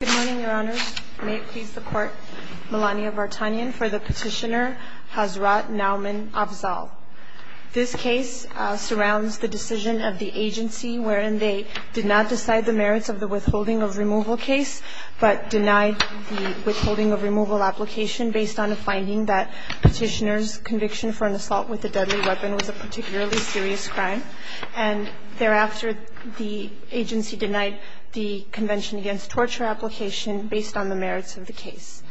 Good morning, Your Honors. May it please the Court, Melania Vartanian for the petitioner Hazrat Nauman Afzal. This case surrounds the decision of the agency wherein they did not decide the merits of the withholding of removal case, but denied the withholding of removal application based on a finding that petitioner's conviction for an assault with a deadly weapon was a particularly serious crime. And thereafter, the agency denied the Convention Against Torture application based on the merits of the case.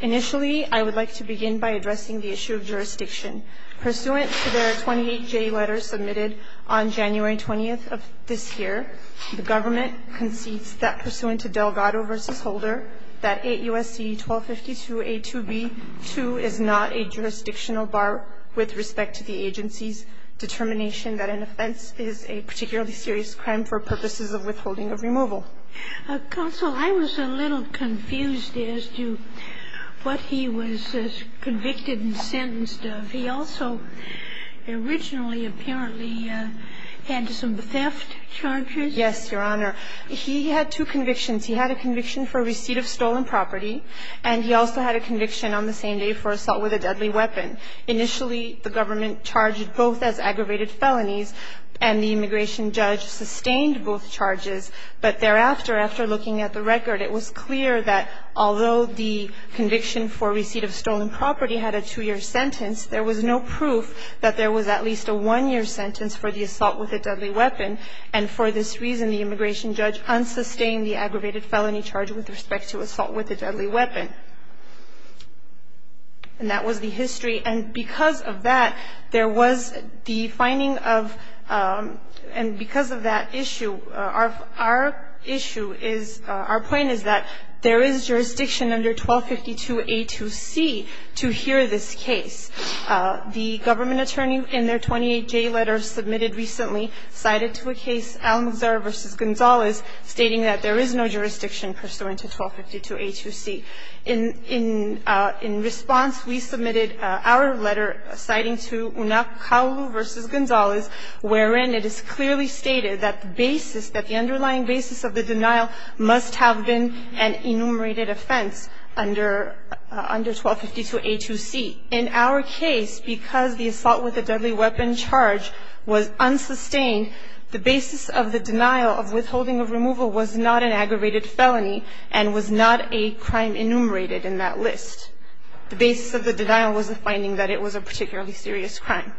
Initially, I would like to begin by addressing the issue of jurisdiction. Pursuant to their 28-J letter submitted on January 20th of this year, the government concedes that pursuant to Delgado v. Holder, that 8 U.S.C. 1252a2b2 is not a jurisdictional bar with respect to the agency's determination that an offense is a particularly serious crime for purposes of withholding of removal. Counsel, I was a little confused as to what he was convicted and sentenced of. He also originally apparently had some theft charges. Yes, Your Honor. He had two convictions. He had a conviction for receipt of stolen property, and he also had a conviction on the same day for assault with a deadly weapon. Initially, the government charged both as aggravated felonies, and the immigration judge sustained both charges. But thereafter, after looking at the record, it was clear that although the conviction for receipt of stolen property had a two-year sentence, there was no proof that there was at least a one-year sentence for the assault with a deadly weapon. And for this reason, the immigration judge unsustained the aggravated felony charge with respect to assault with a deadly weapon. And that was the history. And because of that, there was the finding of – and because of that issue, our issue is – our point is that there is jurisdiction under 1252a2c to hear this case. The government attorney in their 28J letter submitted recently cited to a case, Gonzalez, stating that there is no jurisdiction pursuant to 1252a2c. In response, we submitted our letter citing to Unakaolu v. Gonzalez, wherein it is clearly stated that the basis – that the underlying basis of the denial must have been an enumerated offense under 1252a2c. In our case, because the assault with a deadly weapon charge was unsustained, the basis of the denial of withholding of removal was not an aggravated felony and was not a crime enumerated in that list. The basis of the denial was the finding that it was a particularly serious crime.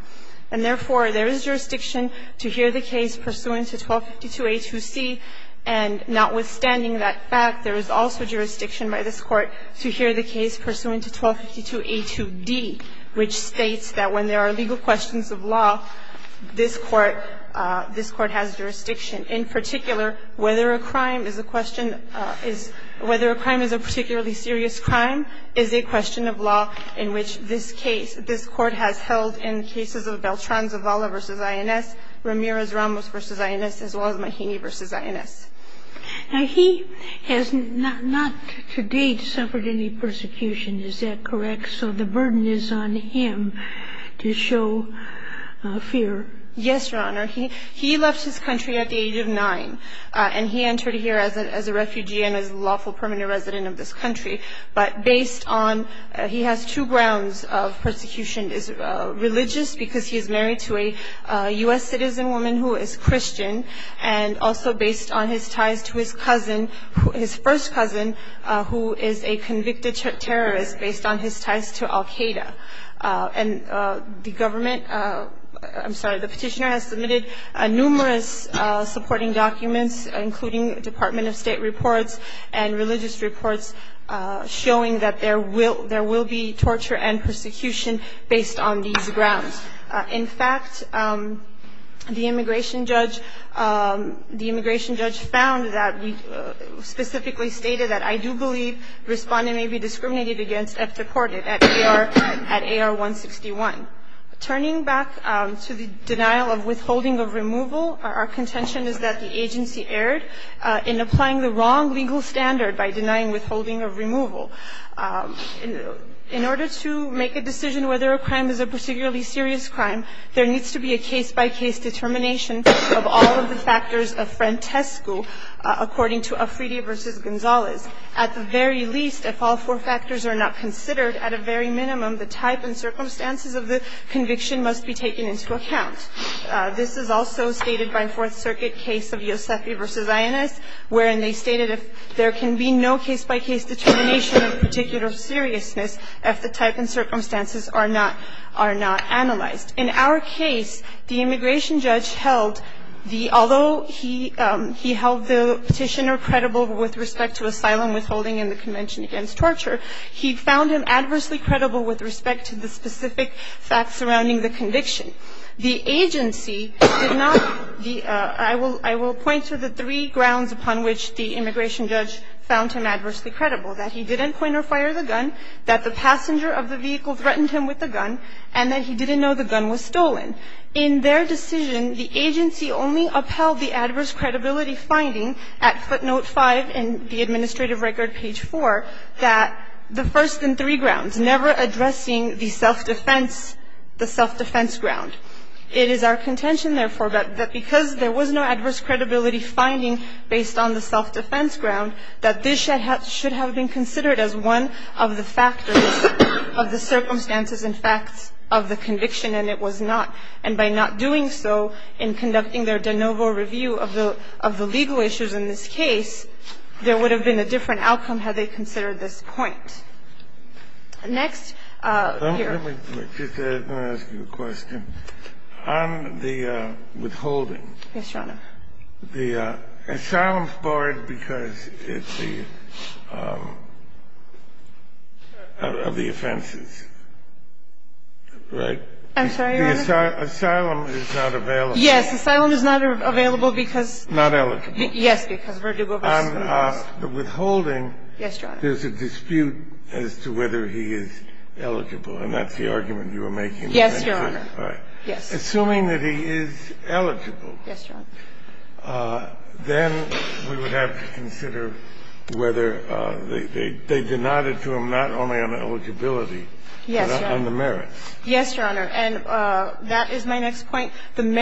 And therefore, there is jurisdiction to hear the case pursuant to 1252a2c. And notwithstanding that fact, there is also jurisdiction by this Court to hear the case pursuant to 1252a2d, which states that when there are legal questions of law, this Court – this Court has jurisdiction. In particular, whether a crime is a question – whether a crime is a particularly serious crime is a question of law in which this case – this Court has held in cases of Beltran's Avala v. INS, Ramirez-Ramos v. INS, as well as Mahaney v. INS. Now, he has not to date suffered any persecution, is that correct? So the burden is on him to show fear. Yes, Your Honor. He left his country at the age of 9, and he entered here as a refugee and as a lawful permanent resident of this country. But based on – he has two grounds of persecution. Religious, because he is married to a U.S. citizen woman who is Christian, and also based on his ties to his cousin – his first cousin, who is a convicted terrorist based on his ties to Al-Qaeda. And the government – I'm sorry, the Petitioner has submitted numerous supporting documents, including Department of State reports and religious reports, showing that there will be torture and persecution based on these grounds. In fact, the immigration judge found that – specifically stated that, I do believe the respondent may be discriminated against after court at AR-161. Turning back to the denial of withholding of removal, our contention is that the agency erred in applying the wrong legal standard by denying withholding of removal. In order to make a decision whether a crime is a particularly serious crime, there needs to be a case-by-case determination of all of the factors of frantesco according to Afridi v. Gonzalez. At the very least, if all four factors are not considered, at a very minimum, the type and circumstances of the conviction must be taken into account. This is also stated by Fourth Circuit case of Iosefi v. Ayanez, wherein they stated there can be no case-by-case determination of particular seriousness if the type and circumstances are not – are not analyzed. In our case, the immigration judge held the – although he held the Petitioner credible with respect to asylum withholding and the Convention Against Torture, he found him adversely credible with respect to the specific facts surrounding the conviction. The agency did not – I will point to the three grounds upon which the immigration judge found him adversely credible, that he didn't point or fire the gun, that the passenger of the vehicle threatened him with the gun, and that he didn't know the gun was stolen. In their decision, the agency only upheld the adverse credibility finding at footnote 5 in the administrative record, page 4, that the first and three grounds, it's never addressing the self-defense – the self-defense ground. It is our contention, therefore, that because there was no adverse credibility finding based on the self-defense ground, that this should have been considered as one of the factors of the circumstances and facts of the conviction, and it was not. And by not doing so in conducting their de novo review of the – of the legal issues in this case, there would have been a different outcome had they considered this point. Next. Here. Let me just ask you a question. On the withholding. Yes, Your Honor. The asylum board, because it's the – of the offenses, right? I'm sorry, Your Honor. The asylum is not available. Yes. Asylum is not available because – Not eligible. Because verdugo versus convict. On the withholding – Yes, Your Honor. There's a dispute as to whether he is eligible, and that's the argument you were making. Yes, Your Honor. Assuming that he is eligible. Yes, Your Honor. Then we would have to consider whether they denied it to him not only on eligibility but on the merits. Yes, Your Honor. And that is my next point. And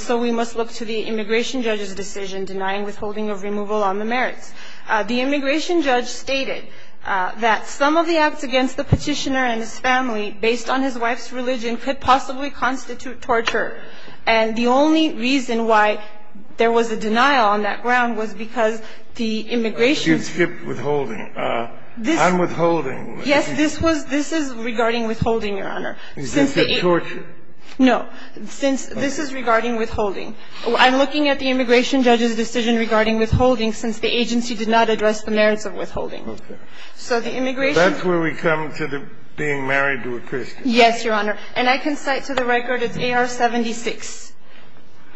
so we must look to the immigration judge's decision denying withholding of removal on the merits. The immigration judge stated that some of the acts against the petitioner and his family based on his wife's religion could possibly constitute torture. And the only reason why there was a denial on that ground was because the immigration – She had skipped withholding. I'm withholding. Yes, this was – this is regarding withholding, Your Honor. Since the – She skipped torture. No. Since – this is regarding withholding. I'm looking at the immigration judge's decision regarding withholding since the agency did not address the merits of withholding. Okay. So the immigration – That's where we come to the being married to a Christian. Yes, Your Honor. And I can cite to the record, it's AR-76.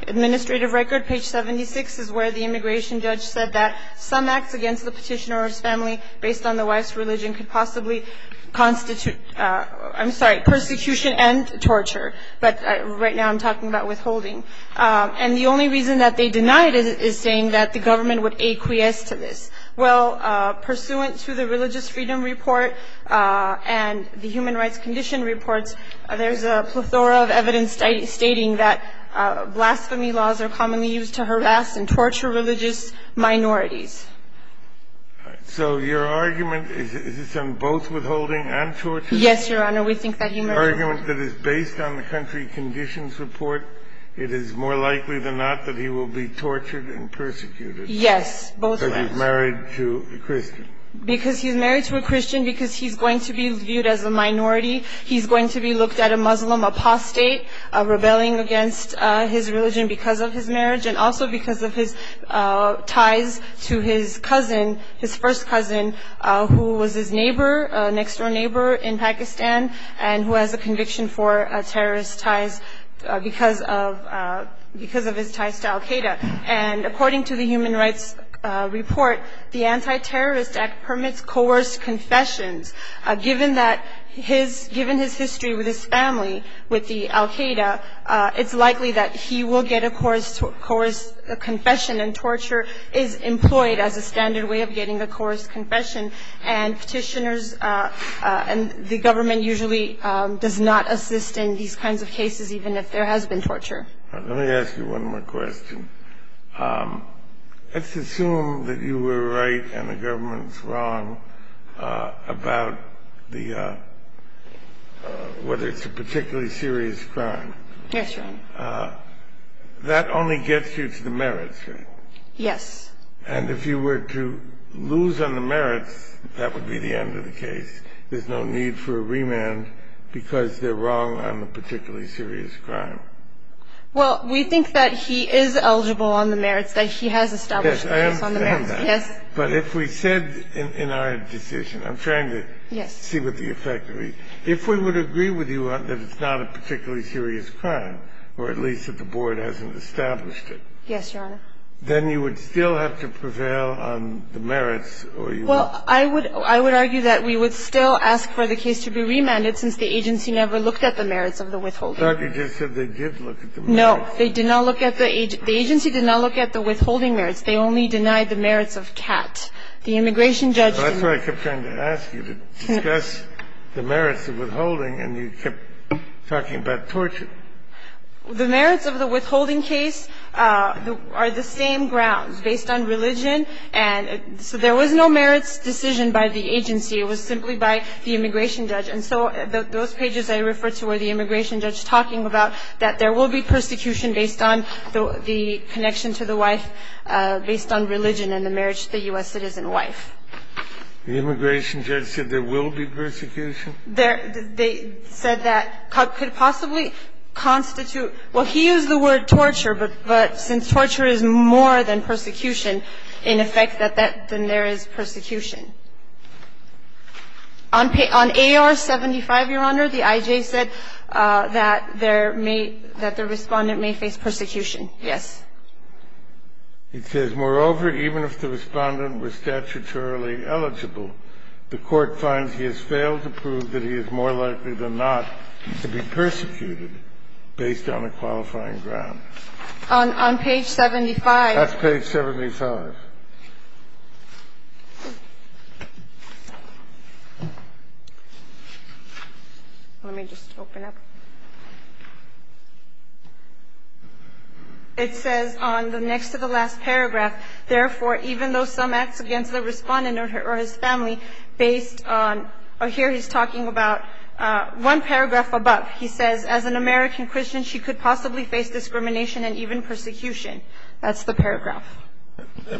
Administrative record, page 76, is where the immigration judge said that some acts against the petitioner or his family based on the wife's religion could possibly constitute – I'm sorry, persecution and torture. But right now I'm talking about withholding. And the only reason that they denied it is saying that the government would acquiesce to this. Well, pursuant to the Religious Freedom Report and the Human Rights Condition Reports, there's a plethora of evidence stating that blasphemy laws are commonly used to harass and torture religious minorities. So your argument is it's on both withholding and torture? Yes, Your Honor. The argument that is based on the country conditions report, it is more likely than not that he will be tortured and persecuted. Yes, both of them. Because he's married to a Christian. Because he's married to a Christian, because he's going to be viewed as a minority. He's going to be looked at a Muslim apostate, rebelling against his religion because of his marriage and also because of his ties to his cousin, his first cousin, who was his neighbor, next-door neighbor in Pakistan, and who has a conviction for terrorist ties because of his ties to Al-Qaeda. And according to the Human Rights Report, the Anti-Terrorist Act permits coerced confessions. Given his history with his family, with the Al-Qaeda, it's likely that he will get a coerced confession and torture is employed as a standard way of getting a coerced confession. And petitioners and the government usually does not assist in these kinds of cases even if there has been torture. Let me ask you one more question. Let's assume that you were right and the government's wrong about the – whether it's a particularly serious crime. Yes, Your Honor. That only gets you to the merits, right? Yes. And if you were to lose on the merits, that would be the end of the case. There's no need for a remand because they're wrong on a particularly serious crime. Well, we think that he is eligible on the merits, that he has established on the merits. Yes, I understand that. Yes. But if we said in our decision – I'm trying to see what the effect would be – if we would agree with you that it's not a particularly serious crime, or at least that the board hasn't established it. Yes, Your Honor. Then you would still have to prevail on the merits, or you would – Well, I would – I would argue that we would still ask for the case to be remanded since the agency never looked at the merits of the withholding. I thought you just said they did look at the merits. No. They did not look at the – the agency did not look at the withholding merits. They only denied the merits of Catt. The immigration judge – That's why I kept trying to ask you to discuss the merits of withholding, and you kept talking about torture. The merits of the withholding case are the same grounds, based on religion. And so there was no merits decision by the agency. It was simply by the immigration judge. And so those pages I referred to were the immigration judge talking about that there will be persecution based on the connection to the wife, based on religion and the marriage to the U.S. citizen wife. The immigration judge said there will be persecution? They said that – could possibly constitute – well, he used the word torture, but since torture is more than persecution, in effect, that that – then there is persecution. On AR-75, Your Honor, the I.J. said that there may – that the Respondent may face persecution. Yes. It says, Moreover, even if the Respondent was statutorily eligible, the Court finds he has failed to prove that he is more likely than not to be persecuted based on a qualifying ground. On page 75. That's page 75. Let me just open up. It says on the next to the last paragraph, Therefore, even though some acts against the Respondent or his family based on – here he's talking about one paragraph above. He says, As an American Christian, she could possibly face discrimination and even persecution. That's the paragraph.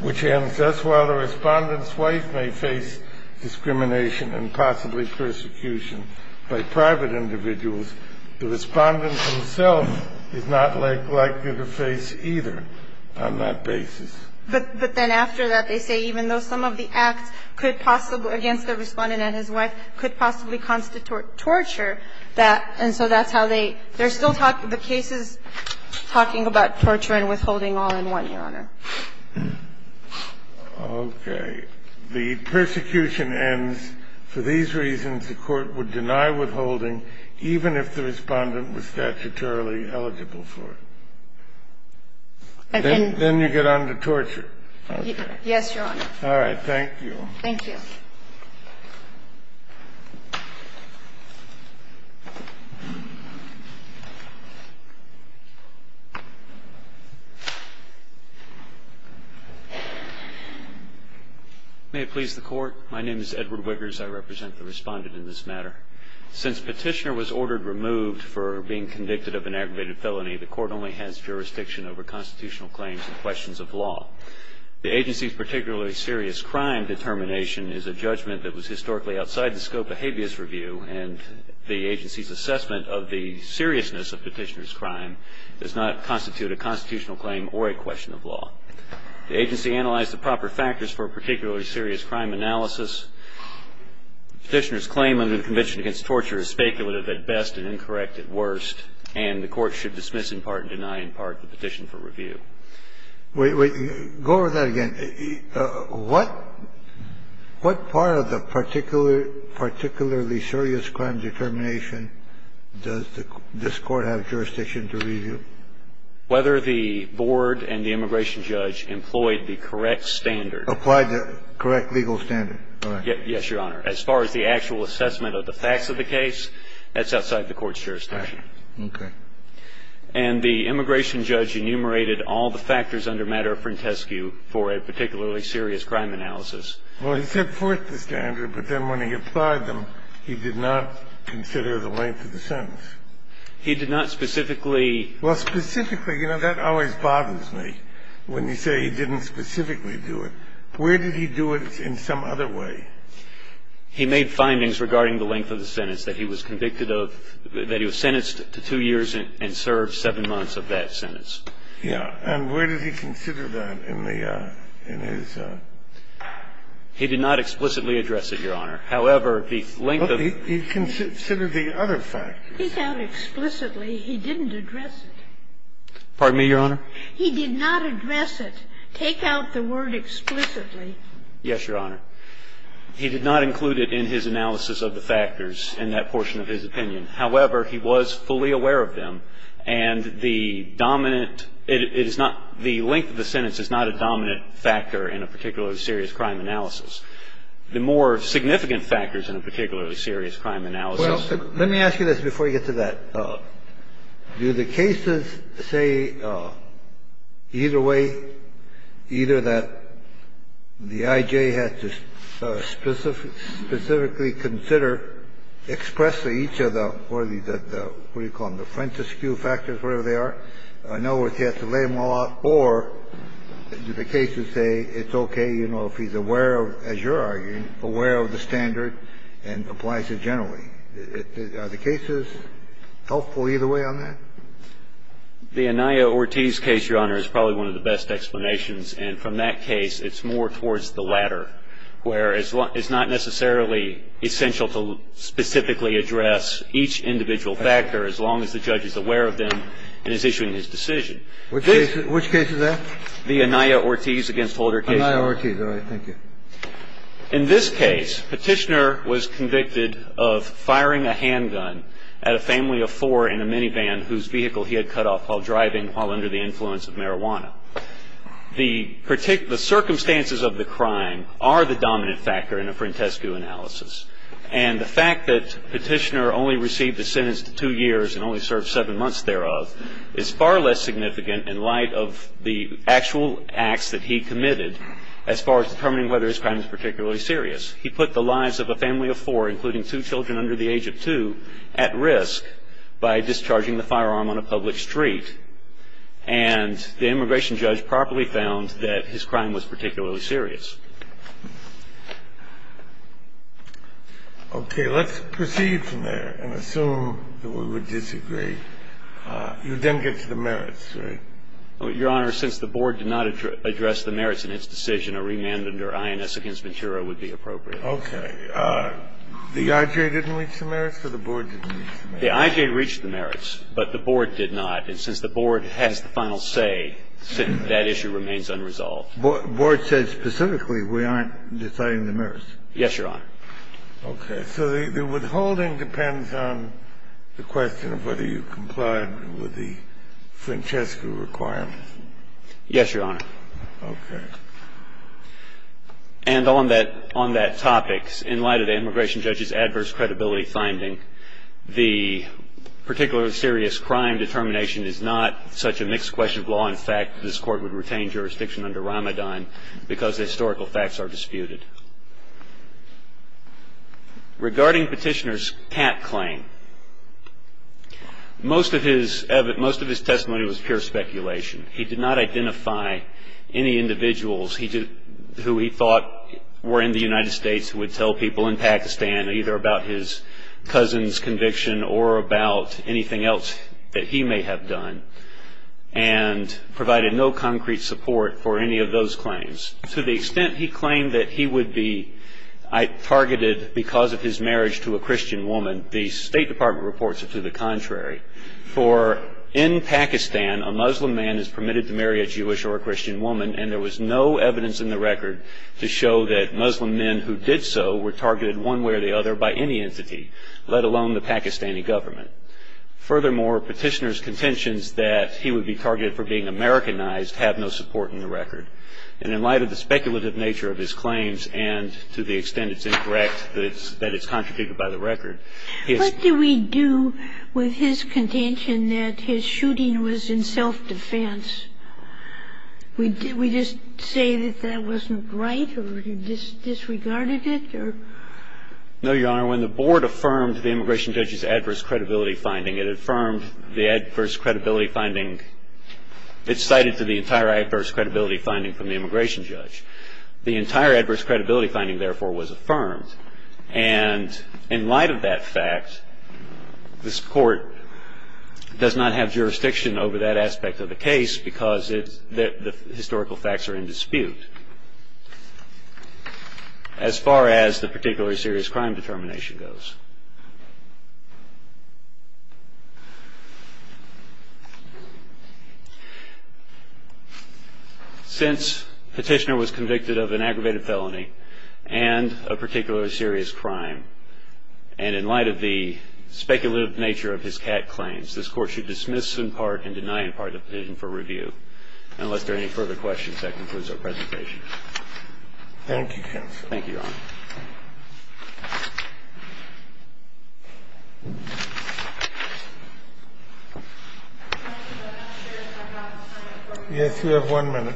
Which ends, Thus, while the Respondent's wife may face discrimination and possibly persecution by private individuals, the Respondent himself is not likely to face either on that basis. But then after that, they say, Even though some of the acts could possibly – against the Respondent and his wife could possibly constitute torture, that – and so that's how they – they're still talking – the case is talking about torture and withholding all in one, Your Honor. Okay. The persecution ends. For these reasons, the Court would deny withholding even if the Respondent was statutorily eligible for it. Then you get on to torture. Yes, Your Honor. All right. Thank you. Thank you. May it please the Court. My name is Edward Wiggers. I represent the Respondent in this matter. Since Petitioner was ordered removed for being convicted of an aggravated felony, the Court only has jurisdiction over constitutional claims and questions of law. The agency's particularly serious crime determination is a judgment that was historically outside the scope of habeas review, and the agency's assessment of the seriousness of Petitioner's crime does not constitute a constitutional claim or a question of law. The agency analyzed the proper factors for a particularly serious crime analysis. Petitioner's claim under the Convention Against Torture is speculative at best and incorrect at worst, and the Court should dismiss in part and deny in part the petition for review. Wait, wait. Go over that again. What part of the particularly serious crime determination does this Court have jurisdiction to review? Whether the board and the immigration judge employed the correct standard. Applied the correct legal standard. Yes, Your Honor. As far as the actual assessment of the facts of the case, that's outside the Court's jurisdiction. Okay. And the immigration judge enumerated all the factors under matter frantescu for a particularly serious crime analysis. Well, he set forth the standard, but then when he applied them, he did not consider the length of the sentence. He did not specifically. Well, specifically. You know, that always bothers me when you say he didn't specifically do it. Where did he do it in some other way? He made findings regarding the length of the sentence that he was convicted of, that he was sentenced to two years and served seven months of that sentence. Yeah. And where did he consider that in the, in his. He did not explicitly address it, Your Honor. However, the length of. He considered the other factors. Take out explicitly. He didn't address it. Pardon me, Your Honor. He did not address it. Take out the word explicitly. Yes, Your Honor. He did not include it in his analysis of the factors in that portion of his opinion. However, he was fully aware of them. And the dominant, it is not, the length of the sentence is not a dominant factor in a particularly serious crime analysis. The more significant factors in a particularly serious crime analysis. Well, let me ask you this before you get to that. Do the cases say either way, either that the I.J. had to specifically consider expressly each of the, what do you call them, the frontisque factors, whatever they are, in other words, he had to lay them all out, or do the cases say it's okay, you know, if he's aware of, as you're arguing, aware of the standard and applies it generally? Are the cases helpful either way on that? The Anaya-Ortiz case, Your Honor, is probably one of the best explanations. And from that case, it's more towards the latter, where it's not necessarily essential to specifically address each individual factor as long as the judge is aware of them and is issuing his decision. Which case is that? The Anaya-Ortiz against Holder cases. The Anaya-Ortiz. All right. Thank you. In this case, Petitioner was convicted of firing a handgun at a family of four in a minivan whose vehicle he had cut off while driving while under the influence of marijuana. The circumstances of the crime are the dominant factor in a frontisque analysis. And the fact that Petitioner only received a sentence to two years and only served seven months thereof is far less significant in light of the actual acts that he committed as far as determining whether his crime is particularly serious. He put the lives of a family of four, including two children under the age of two, at risk by discharging the firearm on a public street. And the immigration judge properly found that his crime was particularly serious. Okay. Let's proceed from there and assume that we would disagree. You then get to the merits, right? Your Honor, since the board did not address the merits in its decision, a remand under INS against Ventura would be appropriate. Okay. The IJ didn't reach the merits or the board didn't reach the merits? The IJ reached the merits, but the board did not. And since the board has the final say, that issue remains unresolved. The board said specifically we aren't deciding the merits. Yes, Your Honor. Okay. So the withholding depends on the question of whether you complied with the Francesca Ventura requirements. Yes, Your Honor. Okay. And on that topic, in light of the immigration judge's adverse credibility finding, the particularly serious crime determination is not such a mixed question of law. In fact, this Court would retain jurisdiction under Ramadan because the historical facts are disputed. Regarding Petitioner's cat claim, most of his testimony was pure speculation. He did not identify any individuals who he thought were in the United States who would tell people in Pakistan either about his cousin's conviction or about anything else that he may have done, and provided no concrete support for any of those claims. To the extent he claimed that he would be targeted because of his marriage to a For in Pakistan, a Muslim man is permitted to marry a Jewish or a Christian woman, and there was no evidence in the record to show that Muslim men who did so were targeted one way or the other by any entity, let alone the Pakistani government. Furthermore, Petitioner's contentions that he would be targeted for being Americanized have no support in the record. And in light of the speculative nature of his claims, and to the extent it's incorrect that it's contradicted by the record, he has What did we do with his contention that his shooting was in self-defense? Did we just say that that wasn't right or disregarded it? No, Your Honor. When the Board affirmed the immigration judge's adverse credibility finding, it affirmed the adverse credibility finding. It cited to the entire adverse credibility finding from the immigration judge. The entire adverse credibility finding, therefore, was affirmed. And in light of that fact, this Court does not have jurisdiction over that aspect of the case because the historical facts are in dispute as far as the particularly serious crime determination goes. Since Petitioner was convicted of an aggravated felony and a particularly serious crime, and in light of the speculative nature of his CAT claims, this Court should dismiss in part and deny in part the petition for review. Unless there are any further questions, that concludes our presentation. Thank you, Your Honor. Thank you. Yes, you have one minute.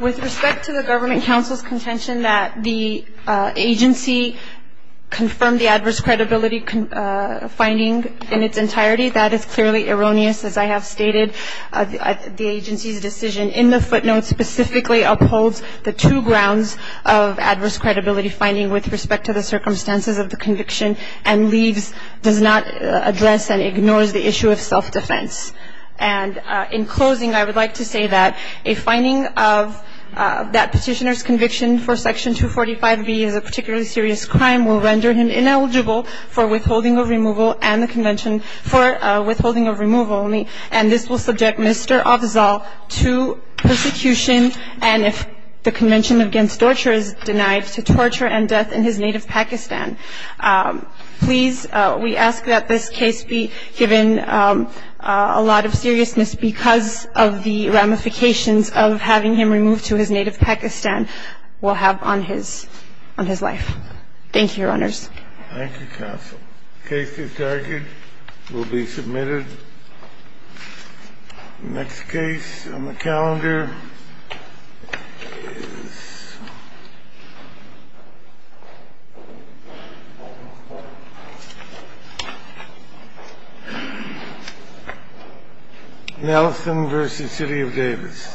With respect to the Government Counsel's contention that the agency confirmed the adverse credibility finding in its entirety, that is clearly erroneous. As I have stated, the agency's decision in the footnote specifically upholds the two grounds of adverse credibility finding with respect to the circumstances of the conviction and does not address and ignores the issue of self-defense. And in closing, I would like to say that a finding of that petitioner's conviction for Section 245B as a particularly serious crime will render him ineligible for withholding of removal and the Convention for Withholding of Removal, and this will subject Mr. Afzal to persecution and if the Convention against Torture is denied, to torture and death in his native Pakistan. Please, we ask that this case be given a lot of seriousness because of the ramifications of having him removed to his native Pakistan will have on his life. Thank you, Your Honors. Thank you, counsel. The case is targeted, will be submitted. The next case on the calendar is Nelson v. City of Davis.